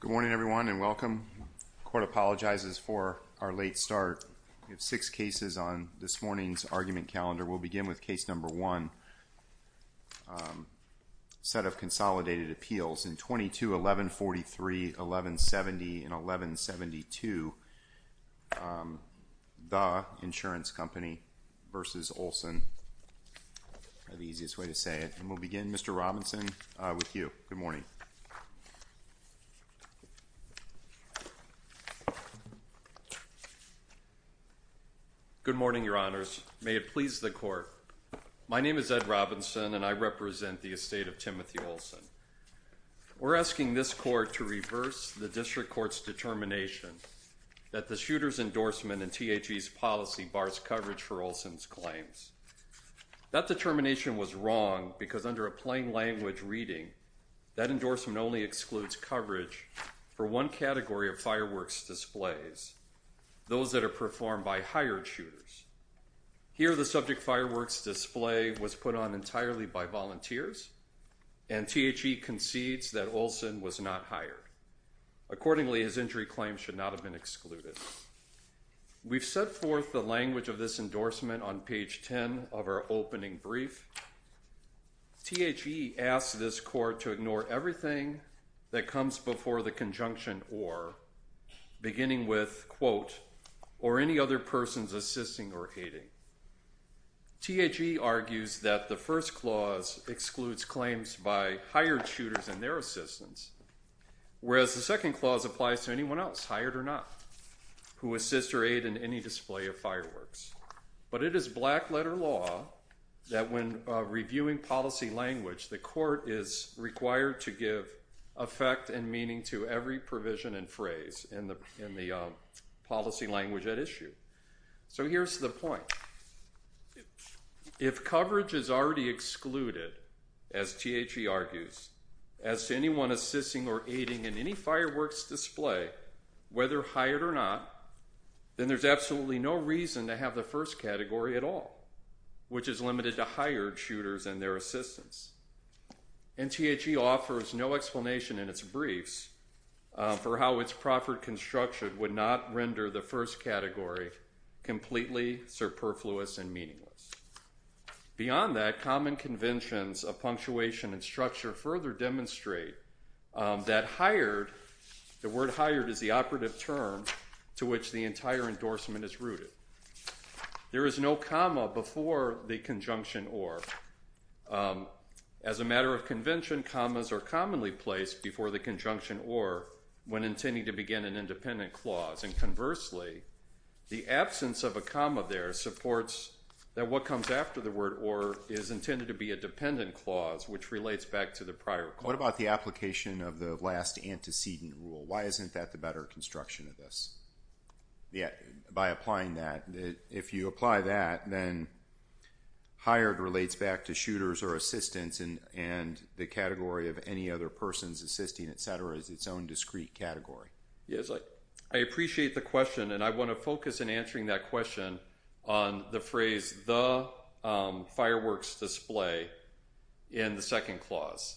Good morning everyone and welcome. The court apologizes for our late start. We have six cases on this morning's argument calendar. We'll begin with case number one. A set of consolidated appeals in 22-1143, 1170 and 1172. That's the easiest way to say it. We'll begin Mr. Robinson with you. Good morning. Good morning your honors. May it please the court. My name is Ed Robinson and I represent the estate of Timothy Olson. We're asking this court to reverse the district court's determination that the shooter's endorsement in T.H.E.'s policy bars coverage for Olson's claims. That determination was wrong because under a plain language reading, that endorsement only excludes coverage for one category of fireworks displays, those that are performed by hired shooters. Here the subject fireworks display was put on entirely by volunteers and T.H.E. concedes that Olson was not hired. Accordingly, his injury claims should not have been excluded. We've set forth the language of this endorsement on page 10 of our opening brief. T.H.E. asks this court to ignore everything that comes before the conjunction or, beginning with quote, or any other person's assisting or aiding. T.H.E. argues that the first clause excludes claims by hired shooters and their assistants, whereas the second clause applies to anyone else, hired or not, who assists or aid in any display of fireworks. But it is black letter law that when reviewing policy language, the court is required to give effect and meaning to every provision and phrase in the policy language at issue. So here's the point. If coverage is already excluded, as T.H.E. argues, as to anyone assisting or aiding in any fireworks display, whether hired or not, then there's absolutely no reason to have the first category at all, which is limited to hired shooters and their assistants. And T.H.E. offers no explanation in its briefs for how its proffered construction would not render the first category completely superfluous and meaningless. Beyond that, common conventions of punctuation and structure further demonstrate that hired, the word hired is the operative term to which the entire endorsement is rooted. There is no comma before the conjunction or. As a matter of convention, commas are commonly placed before the conjunction or when intending to begin an independent clause. And conversely, the absence of a comma there supports that what comes after the word or is intended to be a dependent clause, which relates back to the prior clause. What about the application of the last antecedent rule? Why isn't that the better construction of this? By applying that, if you apply that, then hired relates back to shooters or assistants and the category of any other persons assisting, etc., is its own discrete category. I appreciate the question and I want to focus in answering that question on the phrase the fireworks display in the second clause.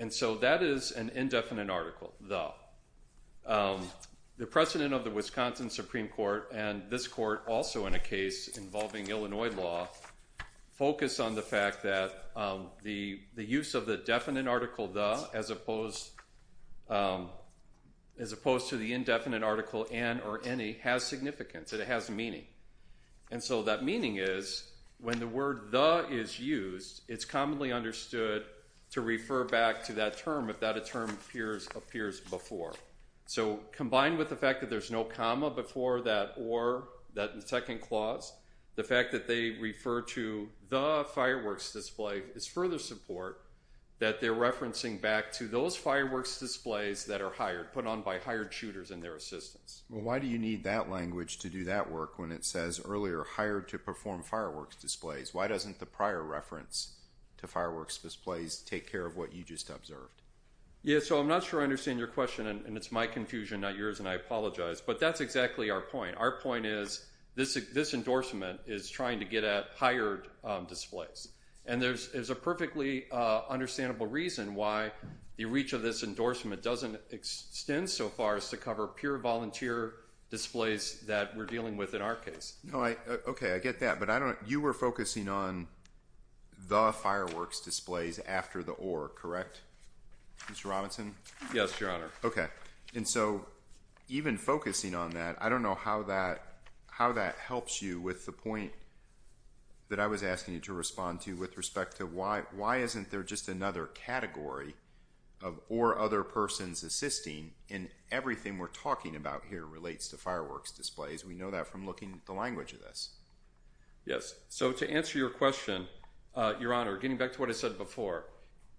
And so that is an indefinite article, the. The precedent of the Wisconsin Supreme Court and this court, also in a case involving Illinois law, focus on the fact that the use of the definite article the, as opposed to the indefinite article and or any, has significance and it has meaning. And so that meaning is when the word the is used, it's commonly understood to refer back to that term if that term appears before. So combined with the fact that there's no comma before that or that in the second clause, the fact that they refer to the fireworks display is further support that they're referencing back to those fireworks displays that are hired, put on by hired shooters and their assistants. Well, why do you need that language to do that work when it says earlier hired to perform fireworks displays? Why doesn't the prior reference to fireworks displays take care of what you just observed? Yeah, so I'm not sure I understand your question and it's my confusion, not yours, and I apologize. But that's exactly our point. Our point is this endorsement is trying to get at hired displays. And there's a perfectly understandable reason why the reach of this endorsement doesn't extend so far as to cover pure volunteer displays that we're dealing with in our case. Okay, I get that. But you were focusing on the fireworks displays after the or, correct, Mr. Robinson? Yes, Your Honor. Okay, and so even focusing on that, I don't know how that helps you with the point that I was asking you to respond to with respect to why isn't there just another category of or other persons assisting in everything we're talking about here relates to fireworks displays. We know that from looking at the language of this. Yes, so to answer your question, Your Honor, getting back to what I said before.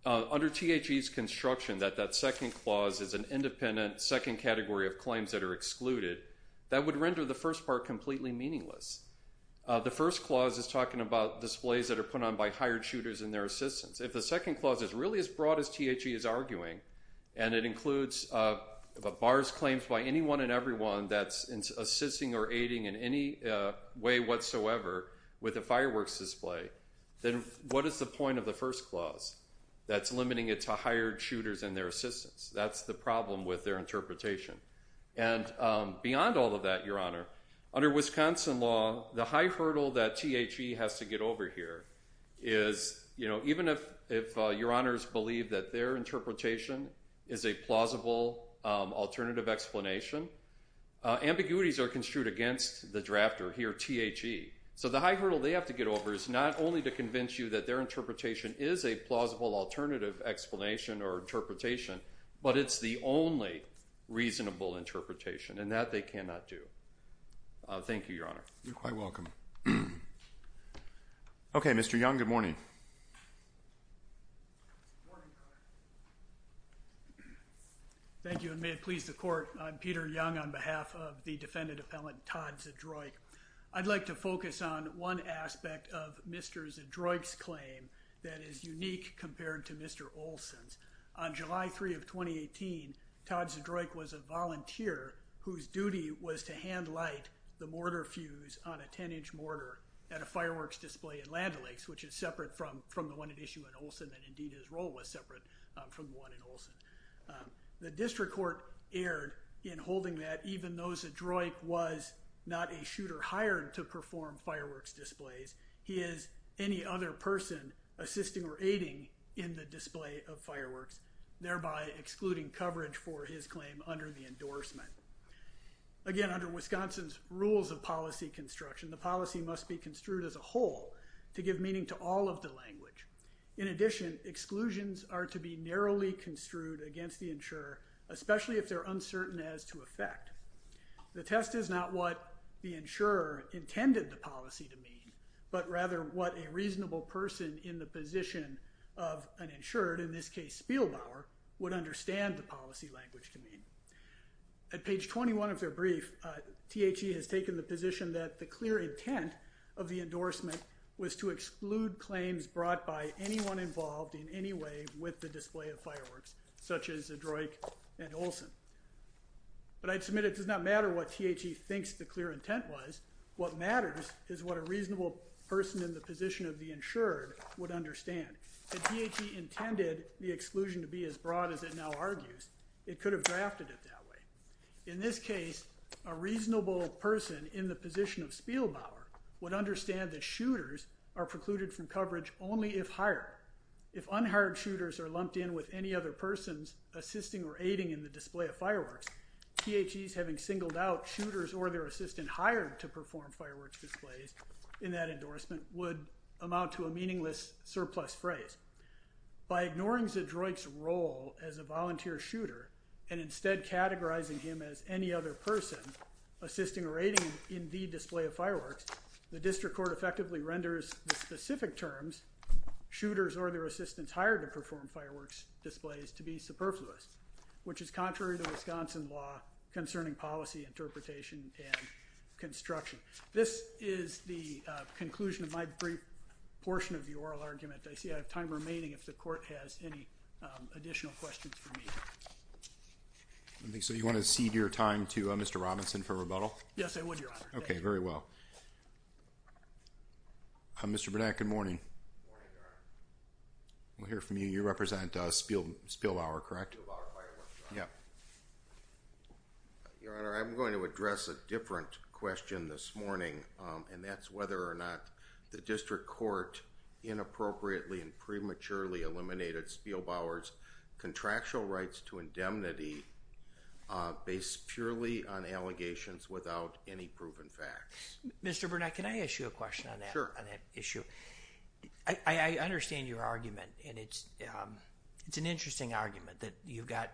Under THE's construction that that second clause is an independent second category of claims that are excluded, that would render the first part completely meaningless. The first clause is talking about displays that are put on by hired shooters and their assistants. If the second clause is really as broad as THE is arguing, and it includes bars claims by anyone and everyone that's assisting or aiding in any way whatsoever with a fireworks display, then what is the point of the first clause that's limiting it to hired shooters and their assistants? That's the problem with their interpretation. And beyond all of that, Your Honor, under Wisconsin law, the high hurdle that THE has to get over here is even if Your Honors believe that their interpretation is a plausible alternative explanation, ambiguities are construed against the drafter here, THE. So the high hurdle they have to get over is not only to convince you that their interpretation is a plausible alternative explanation or interpretation, but it's the only reasonable interpretation. And that they cannot do. Thank you, Your Honor. You're quite welcome. Okay, Mr. Young, good morning. Thank you, and may it please the Court. I'm Peter Young on behalf of the defendant appellant, Todd Zadroich. I'd like to focus on one aspect of Mr. Zadroich's claim that is unique compared to Mr. Olson's. On July 3 of 2018, Todd Zadroich was a volunteer whose duty was to hand light the mortar fuse on a 10-inch mortar at a fireworks display in Land O'Lakes, which is separate from the one at issue in Olson, and indeed his role was separate from the one in Olson. The district court erred in holding that even though Zadroich was not a shooter hired to perform fireworks displays, he is any other person assisting or aiding in the display of fireworks, thereby excluding coverage for his claim under the endorsement. Again, under Wisconsin's rules of policy construction, the policy must be construed as a whole to give meaning to all of the language. In addition, exclusions are to be narrowly construed against the insurer, especially if they're uncertain as to effect. The test is not what the insurer intended the policy to mean, but rather what a reasonable person in the position of an insured, in this case Spielbauer, would understand the policy language to mean. At page 21 of their brief, THE has taken the position that the clear intent of the endorsement was to exclude claims brought by anyone involved in any way with the display of fireworks, such as Zadroich and Olson. But I'd submit it does not matter what THE thinks the clear intent was, what matters is what a reasonable person in the position of the insured would understand. If THE intended the exclusion to be as broad as it now argues, it could have drafted it that way. In this case, a reasonable person in the position of Spielbauer would understand that shooters are precluded from coverage only if hired. If unhired shooters are lumped in with any other persons assisting or aiding in the display of fireworks, THE's having singled out shooters or their assistant hired to perform fireworks displays in that endorsement would amount to a meaningless surplus phrase. By ignoring Zadroich's role as a volunteer shooter and instead categorizing him as any other person assisting or aiding in the display of fireworks, THE District Court effectively renders the specific terms, shooters or their assistants hired to perform fireworks displays, to be superfluous, which is contrary to Wisconsin law concerning policy interpretation and construction. This is the conclusion of my brief portion of the oral argument. I see I have time remaining if THE Court has any additional questions for me. So you want to cede your time to Mr. Robinson for rebuttal? Yes, I would, Your Honor. Okay, very well. Mr. Burnett, good morning. Good morning, Your Honor. We'll hear from you. You represent Spielbauer, correct? Spielbauer Fireworks. Yeah. Your Honor, I'm going to address a different question this morning, and that's whether or not THE District Court inappropriately and prematurely eliminated Spielbauer's contractual rights to indemnity based purely on allegations without any proven facts. Mr. Burnett, can I ask you a question on that? Sure. I understand your argument, and it's an interesting argument that you've got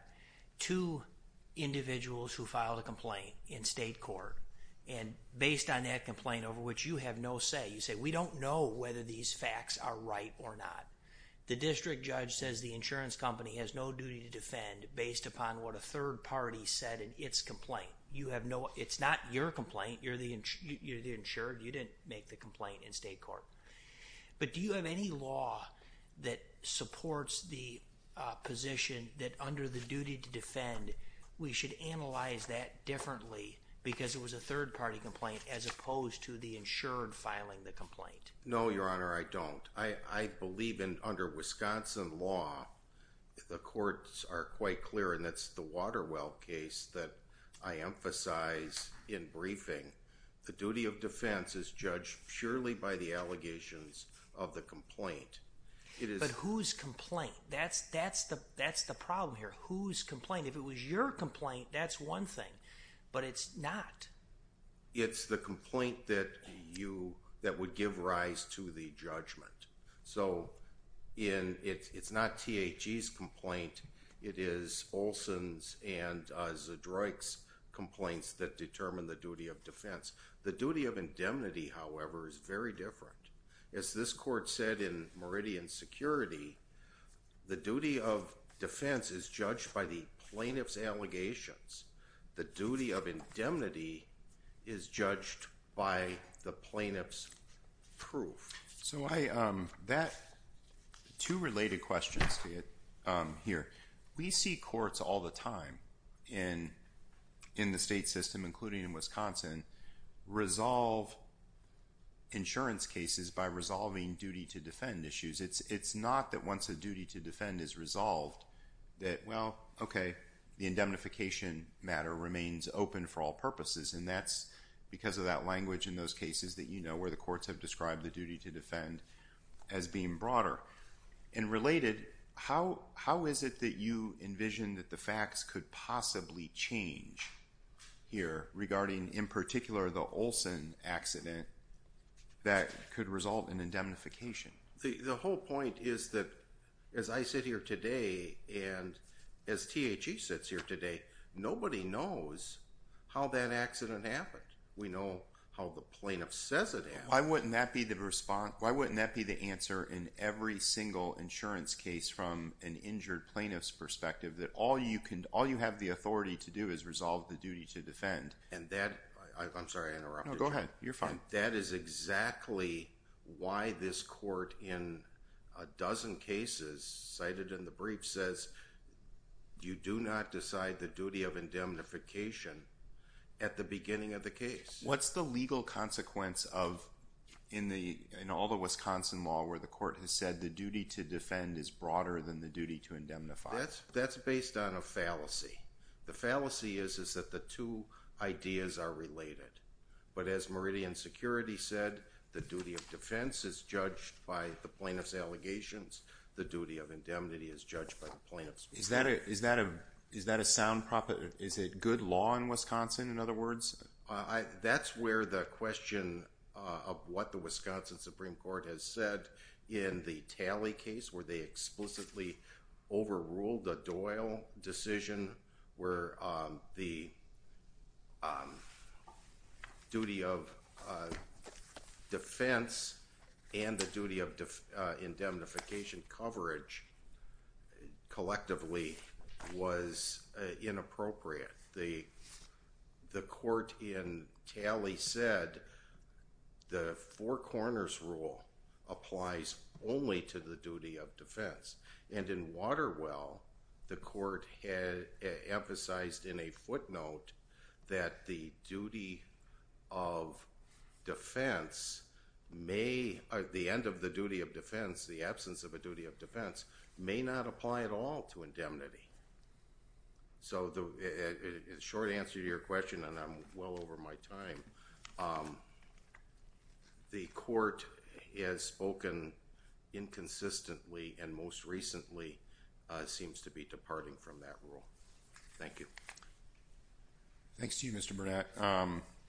two individuals who filed a complaint in state court, and based on that complaint, over which you have no say, you say, we don't know whether these facts are right or not. The district judge says the insurance company has no duty to defend based upon what a third party said in its complaint. It's not your complaint. You're the insured. You didn't make the complaint in state court. But do you have any law that supports the position that under the duty to defend, we should analyze that differently because it was a third-party complaint as opposed to the insured filing the complaint? No, Your Honor, I don't. I believe under Wisconsin law, the courts are quite clear, and that's the Waterwell case that I emphasize in briefing. The duty of defense is judged purely by the allegations of the complaint. But whose complaint? That's the problem here. Whose complaint? If it was your complaint, that's one thing. But it's not. It's the complaint that would give rise to the judgment. So it's not THE's complaint. It is Olson's and Zedroik's complaints that determine the duty of defense. The duty of indemnity, however, is very different. As this court said in Meridian Security, the duty of defense is judged by the plaintiff's allegations. The duty of indemnity is judged by the plaintiff's proof. Two related questions to it here. We see courts all the time in the state system, including in Wisconsin, resolve insurance cases by resolving duty to defend issues. It's not that once a duty to defend is resolved that, well, okay, the indemnification matter remains open for all purposes. And that's because of that language in those cases that you know where the courts have described the duty to defend as being broader. And related, how is it that you envision that the facts could possibly change here regarding, in particular, the Olson accident that could result in indemnification? The whole point is that, as I sit here today, and as THE sits here today, nobody knows how that accident happened. We know how the plaintiff says it happened. Why wouldn't that be the answer in every single insurance case from an injured plaintiff's perspective? That all you have the authority to do is resolve the duty to defend. And that, I'm sorry, I interrupted you. No, go ahead. You're fine. That is exactly why this court, in a dozen cases cited in the brief, says you do not decide the duty of indemnification at the beginning of the case. What's the legal consequence of, in all the Wisconsin law, where the court has said the duty to defend is broader than the duty to indemnify? That's based on a fallacy. The fallacy is that the two ideas are related. But as Meridian Security said, the duty of defense is judged by the plaintiff's allegations. The duty of indemnity is judged by the plaintiff's plea. Is that a sound proposition? Is it good law in Wisconsin, in other words? That's where the question of what the Wisconsin Supreme Court has said in the Talley case, where they explicitly overruled the Doyle decision, where the duty of defense and the duty of indemnification coverage, collectively, was inappropriate. The court in Talley said the Four Corners rule applies only to the duty of defense. And in Waterwell, the court emphasized in a footnote that the end of the duty of defense, the absence of a duty of defense, may not apply at all to indemnity. So the short answer to your question, and I'm well over my time, the court has spoken inconsistently and most recently seems to be departing from that rule. Thank you. Thanks to you, Mr. Burnett.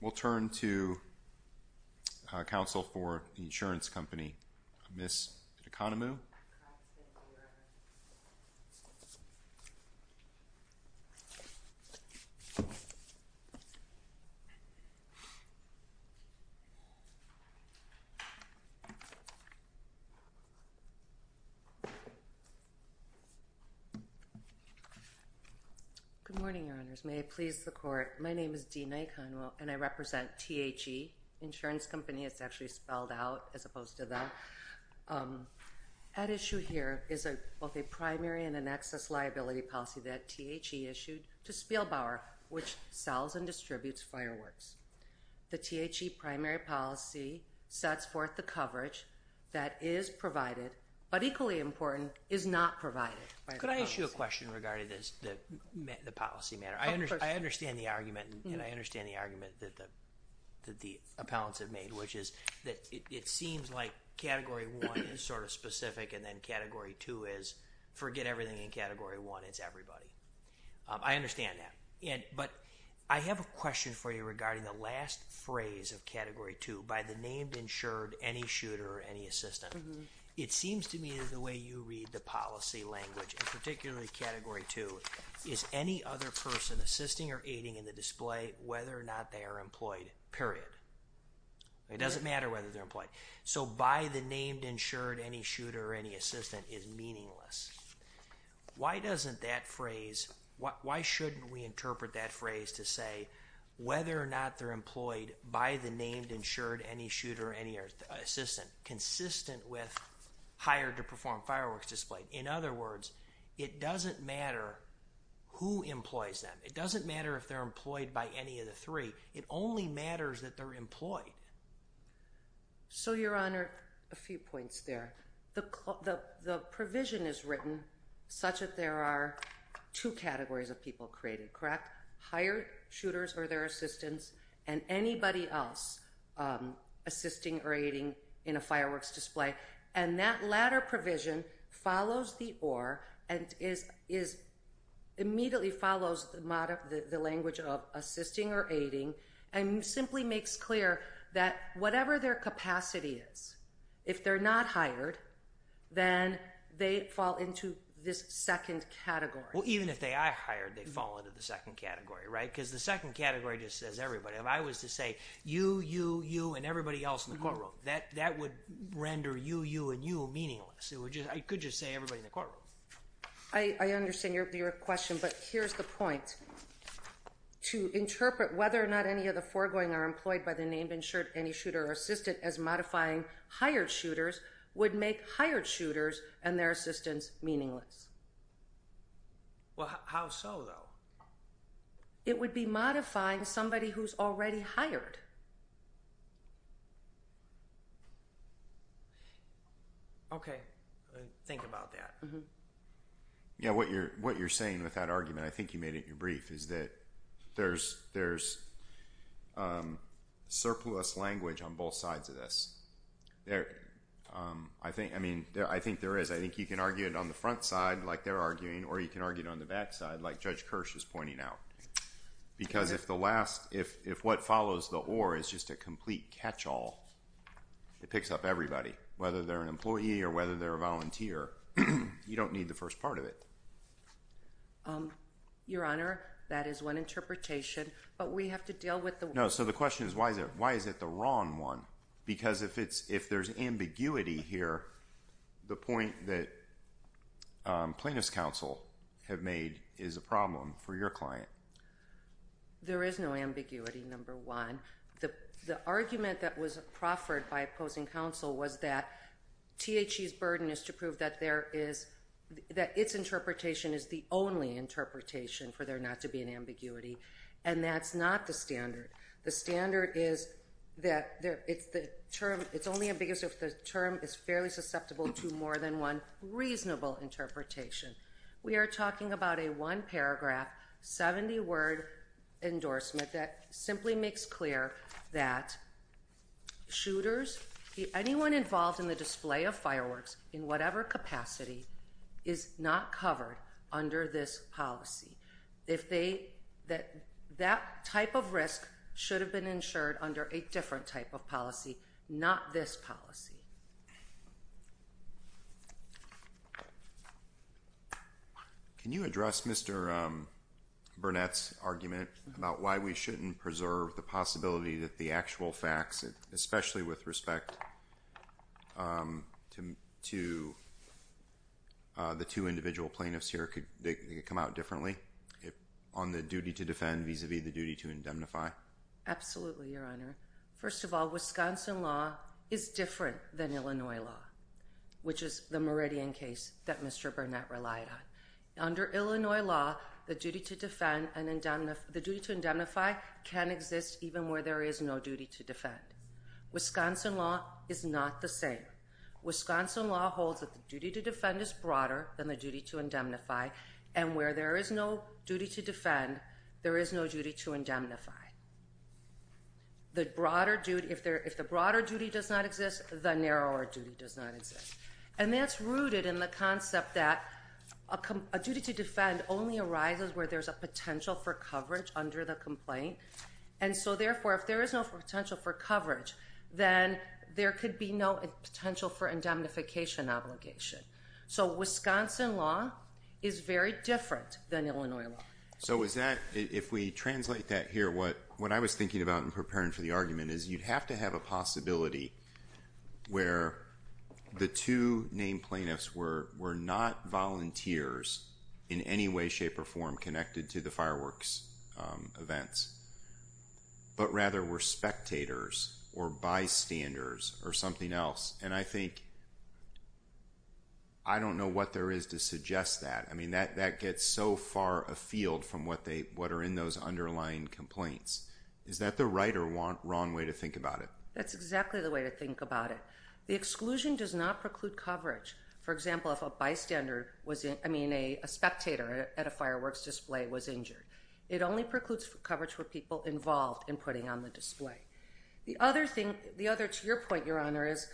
We'll turn to counsel for the insurance company, Ms. DeConomo. Good morning, Your Honors. May I please the court? My name is DeConomo, and I represent THE Insurance Company. It's actually spelled out as opposed to them. At issue here is both a primary and an excess liability policy that THE issued to Spielbauer, which sells and distributes fireworks. The THE primary policy sets forth the coverage that is provided, but equally important, is not provided by the policy. I want to ask you a question regarding the policy matter. I understand the argument, and I understand the argument that the appellants have made, which is that it seems like Category 1 is sort of specific and then Category 2 is forget everything in Category 1, it's everybody. I understand that. But I have a question for you regarding the last phrase of Category 2, by the name ensured any shooter or any assistant. It seems to me that the way you read the policy language, and particularly Category 2, is any other person assisting or aiding in the display whether or not they are employed, period. It doesn't matter whether they're employed. So, by the name ensured any shooter or any assistant is meaningless. Why doesn't that phrase, why shouldn't we interpret that phrase to say whether or not they're employed by the name ensured any shooter or any assistant, consistent with hired to perform fireworks displayed? In other words, it doesn't matter who employs them. It doesn't matter if they're employed by any of the three. It only matters that they're employed. So, Your Honor, a few points there. The provision is written such that there are two categories of people created, correct? Hired shooters or their assistants and anybody else assisting or aiding in a fireworks display. And that latter provision follows the OR and immediately follows the language of assisting or aiding and simply makes clear that whatever their capacity is, if they're not hired, then they fall into this second category. Well, even if they are hired, they fall into the second category, right? Because the second category just says everybody. If I was to say you, you, you, and everybody else in the courtroom, that would render you, you, and you meaningless. I could just say everybody in the courtroom. I understand your question, but here's the point. To interpret whether or not any of the foregoing are employed by the name ensured any shooter or assistant as modifying hired shooters would make hired shooters and their assistants meaningless. Well, how so, though? It would be modifying somebody who's already hired. Okay, I'll think about that. Yeah, what you're saying with that argument, I think you made it in your brief, is that there's surplus language on both sides of this. I think there is. I think you can argue it on the front side like they're arguing or you can argue it on the back side like Judge Kirsch was pointing out. Because if the last, if what follows the or is just a complete catch-all, it picks up everybody. Whether they're an employee or whether they're a volunteer, you don't need the first part of it. Your Honor, that is one interpretation, but we have to deal with the- No, so the question is why is it the wrong one? Because if there's ambiguity here, the point that plaintiffs' counsel have made is a problem for your client. There is no ambiguity, number one. The argument that was proffered by opposing counsel was that THC's burden is to prove that there is, that its interpretation is the only interpretation for there not to be an ambiguity. And that's not the standard. The standard is that it's the term, it's only ambiguous if the term is fairly susceptible to more than one reasonable interpretation. We are talking about a one-paragraph, 70-word endorsement that simply makes clear that shooters, anyone involved in the display of fireworks in whatever capacity is not covered under this policy. That type of risk should have been insured under a different type of policy, not this policy. Can you address Mr. Burnett's argument about why we shouldn't preserve the possibility that the actual facts, especially with respect to the two individual plaintiffs here, could come out differently on the duty to defend vis-a-vis the duty to indemnify? First of all, Wisconsin law is different than Illinois law, which is the Meridian case that Mr. Burnett relied on. Under Illinois law, the duty to defend and the duty to indemnify can exist even where there is no duty to defend. Wisconsin law is not the same. Wisconsin law holds that the duty to defend is broader than the duty to indemnify, and where there is no duty to defend, there is no duty to indemnify. If the broader duty does not exist, the narrower duty does not exist. And that's rooted in the concept that a duty to defend only arises where there's a potential for coverage under the complaint. And so, therefore, if there is no potential for coverage, then there could be no potential for indemnification obligation. So Wisconsin law is very different than Illinois law. So is that – if we translate that here, what I was thinking about in preparing for the argument is you'd have to have a possibility where the two named plaintiffs were not volunteers in any way, shape, or form connected to the fireworks events, but rather were spectators or bystanders or something else. And I think – I don't know what there is to suggest that. I mean, that gets so far afield from what are in those underlying complaints. Is that the right or wrong way to think about it? That's exactly the way to think about it. The exclusion does not preclude coverage. For example, if a bystander was – I mean, a spectator at a fireworks display was injured. It only precludes coverage for people involved in putting on the display. The other thing – the other – to your point, Your Honor, is,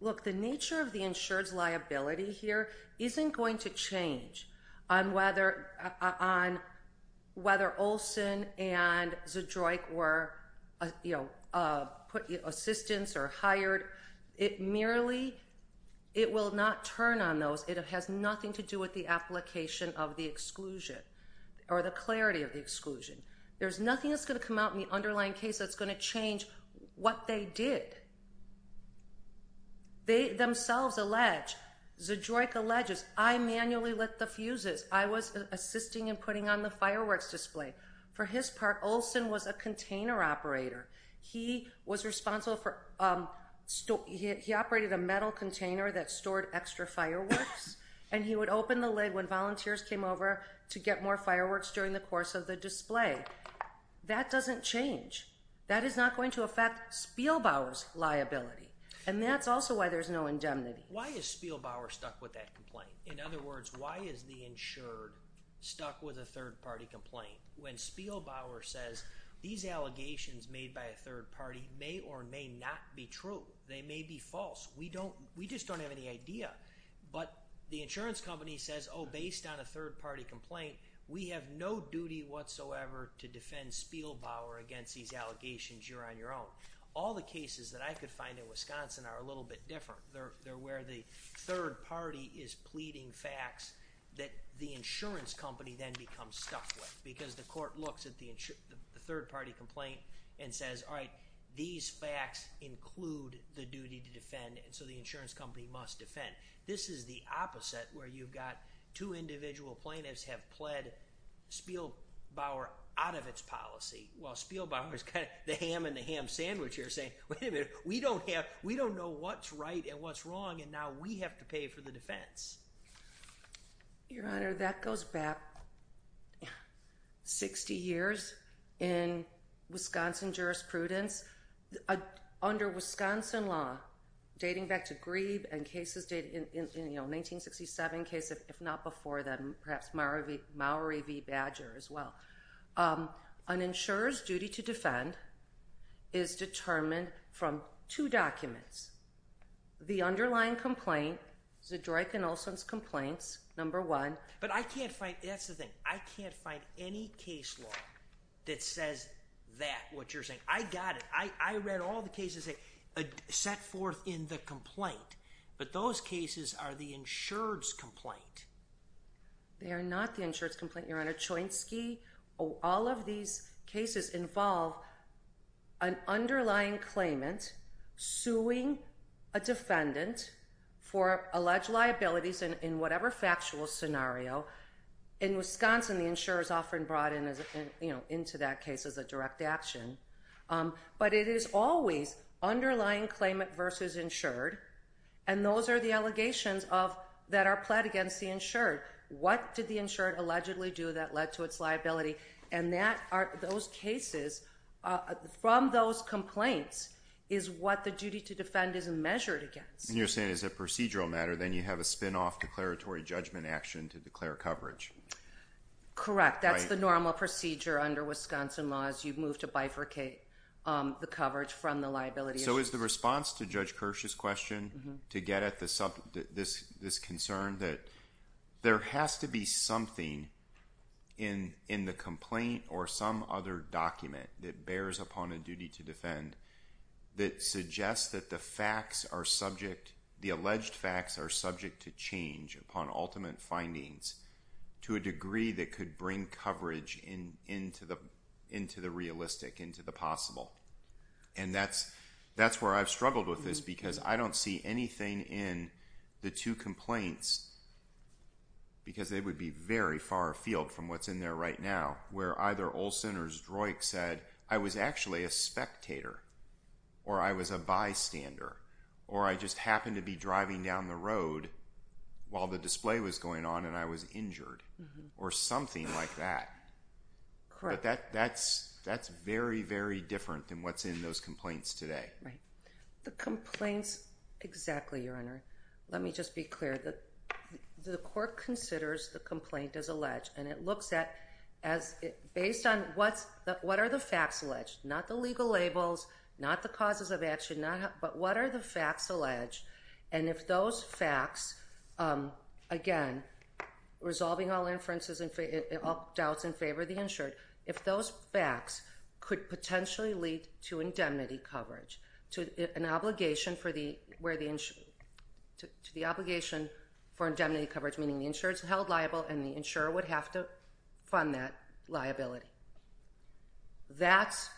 look, the nature of the insured's liability here isn't going to change on whether Olson and Zedroic were, you know, assistance or hired. It merely – it will not turn on those. It has nothing to do with the application of the exclusion or the clarity of the exclusion. There's nothing that's going to come out in the underlying case that's going to change what they did. They themselves allege, Zedroic alleges, I manually lit the fuses. I was assisting in putting on the fireworks display. For his part, Olson was a container operator. He was responsible for – he operated a metal container that stored extra fireworks, and he would open the lid when volunteers came over to get more fireworks during the course of the display. That doesn't change. That is not going to affect Spielbauer's liability, and that's also why there's no indemnity. Why is Spielbauer stuck with that complaint? In other words, why is the insured stuck with a third-party complaint when Spielbauer says these allegations made by a third party may or may not be true? They may be false. We don't – we just don't have any idea. But the insurance company says, oh, based on a third-party complaint, we have no duty whatsoever to defend Spielbauer against these allegations. You're on your own. All the cases that I could find in Wisconsin are a little bit different. They're where the third party is pleading facts that the insurance company then becomes stuck with because the court looks at the third-party complaint and says, all right, these facts include the duty to defend, and so the insurance company must defend. This is the opposite where you've got two individual plaintiffs have pled Spielbauer out of its policy while Spielbauer has got the ham in the ham sandwich here saying, wait a minute. We don't have – we don't know what's right and what's wrong, and now we have to pay for the defense. Your Honor, that goes back 60 years in Wisconsin jurisprudence. Under Wisconsin law, dating back to Grieb and cases dating – 1967 case, if not before that, perhaps Mowry v. Badger as well, an insurer's duty to defend is determined from two documents. The underlying complaint, Zedroik and Olson's complaints, number one. But I can't find – that's the thing. I can't find any case law that says that, what you're saying. I got it. I read all the cases set forth in the complaint, but those cases are the insurer's complaint. They are not the insurer's complaint, Your Honor. All of these cases involve an underlying claimant suing a defendant for alleged liabilities in whatever factual scenario. In Wisconsin, the insurer is often brought into that case as a direct action. But it is always underlying claimant versus insured, and those are the allegations that are pled against the insured. What did the insured allegedly do that led to its liability? And those cases, from those complaints, is what the duty to defend is measured against. And you're saying as a procedural matter, then you have a spinoff declaratory judgment action to declare coverage. Correct. That's the normal procedure under Wisconsin law is you move to bifurcate the coverage from the liability insurance. So is the response to Judge Kirsch's question to get at this concern that there has to be something in the complaint or some other document that bears upon a duty to defend that suggests that the alleged facts are subject to change upon ultimate findings to a degree that could bring coverage into the realistic, into the possible? And that's where I've struggled with this, because I don't see anything in the two complaints, because they would be very far afield from what's in there right now, where either Olson or Zdroik said, I was actually a spectator, or I was a bystander, or I just happened to be driving down the road while the display was going on and I was injured, or something like that. Correct. But that's very, very different than what's in those complaints today. Right. The complaints, exactly, Your Honor. Let me just be clear. The court considers the complaint as alleged, and it looks at, based on what are the facts alleged, not the legal labels, not the causes of action, but what are the facts alleged, and if those facts, again, resolving all inferences and all doubts in favor of the insured, if those facts could potentially lead to indemnity coverage, to the obligation for indemnity coverage, meaning the insurer is held liable and the insurer would have to fund that liability. That's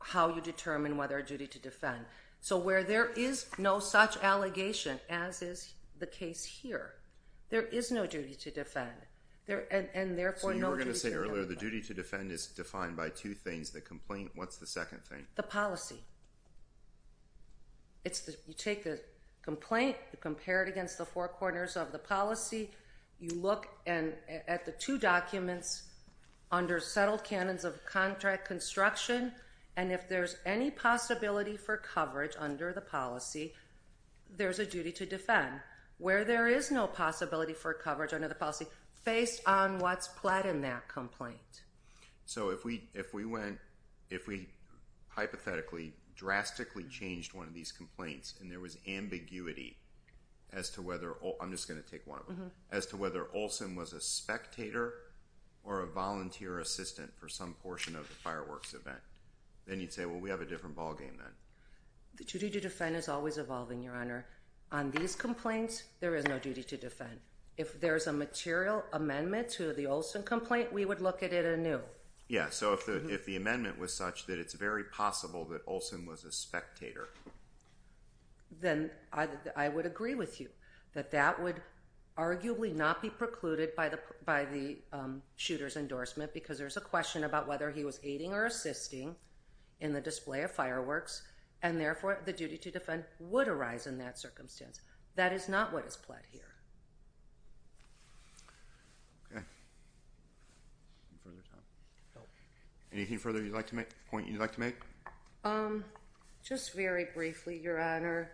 how you determine whether a duty to defend. So where there is no such allegation, as is the case here, there is no duty to defend. And therefore, no duty to defend. So you were going to say earlier the duty to defend is defined by two things, the complaint. What's the second thing? The policy. You take the complaint, you compare it against the four corners of the policy, you look at the two documents under settled canons of contract construction, and if there's any possibility for coverage under the policy, there's a duty to defend. Where there is no possibility for coverage under the policy, based on what's pled in that complaint. So if we went, if we hypothetically drastically changed one of these complaints, and there was ambiguity as to whether, I'm just going to take one of them, as to whether Olson was a spectator or a volunteer assistant for some portion of the fireworks event, then you'd say, well, we have a different ballgame then. The duty to defend is always evolving, Your Honor. On these complaints, there is no duty to defend. If there's a material amendment to the Olson complaint, we would look at it anew. Yeah, so if the amendment was such that it's very possible that Olson was a spectator. Then I would agree with you, that that would arguably not be precluded by the shooter's endorsement, because there's a question about whether he was aiding or assisting in the display of fireworks, and therefore the duty to defend would arise in that circumstance. That is not what is pled here. Okay. Anything further you'd like to make, a point you'd like to make? Just very briefly, Your Honor.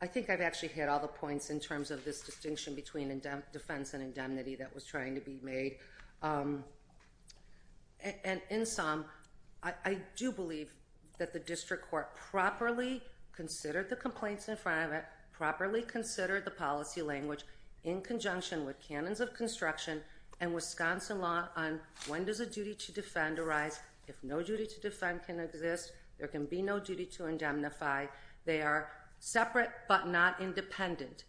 I think I've actually hit all the points in terms of this distinction between defense and indemnity that was trying to be made. In sum, I do believe that the district court properly considered the complaints in front of it, properly considered the policy language in conjunction with canons of construction, and Wisconsin law on when does a duty to defend arise. If no duty to defend can exist, there can be no duty to indemnify. They are separate but not independent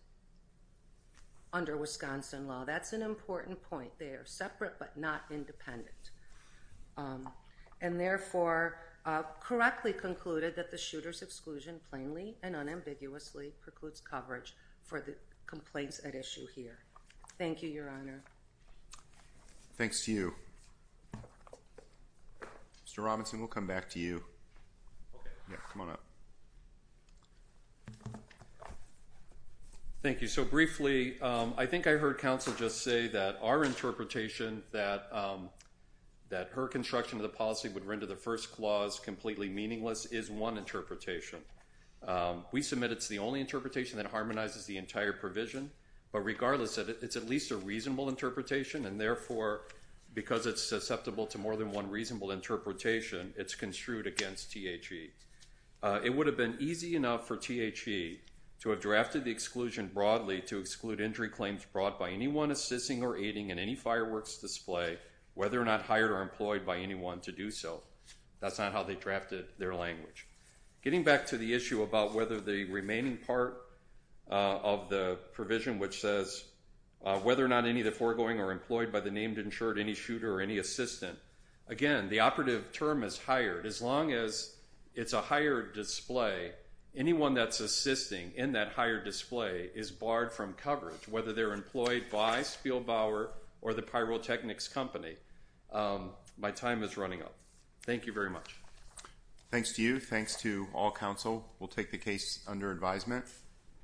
under Wisconsin law. That's an important point there, separate but not independent. And therefore, correctly concluded that the shooter's exclusion plainly and unambiguously precludes coverage for the complaints at issue here. Thank you, Your Honor. Thanks to you. Mr. Robinson, we'll come back to you. Okay. Come on up. Thank you. So briefly, I think I heard counsel just say that our interpretation that her construction of the policy would render the first clause completely meaningless is one interpretation. We submit it's the only interpretation that harmonizes the entire provision, but regardless, it's at least a reasonable interpretation, and therefore, because it's susceptible to more than one reasonable interpretation, it's construed against THE. It would have been easy enough for THE to have drafted the exclusion broadly to exclude injury claims brought by anyone assisting or aiding in any fireworks display, whether or not hired or employed by anyone to do so. That's not how they drafted their language. Getting back to the issue about whether the remaining part of the provision, which says, whether or not any of the foregoing are employed by the named insured any shooter or any assistant, again, the operative term is hired. As long as it's a hired display, anyone that's assisting in that hired display is barred from coverage, whether they're employed by Spielbauer or the pyrotechnics company. My time is running up. Thank you very much. Thanks to you. Thanks to all counsel. We'll take the case under advisement.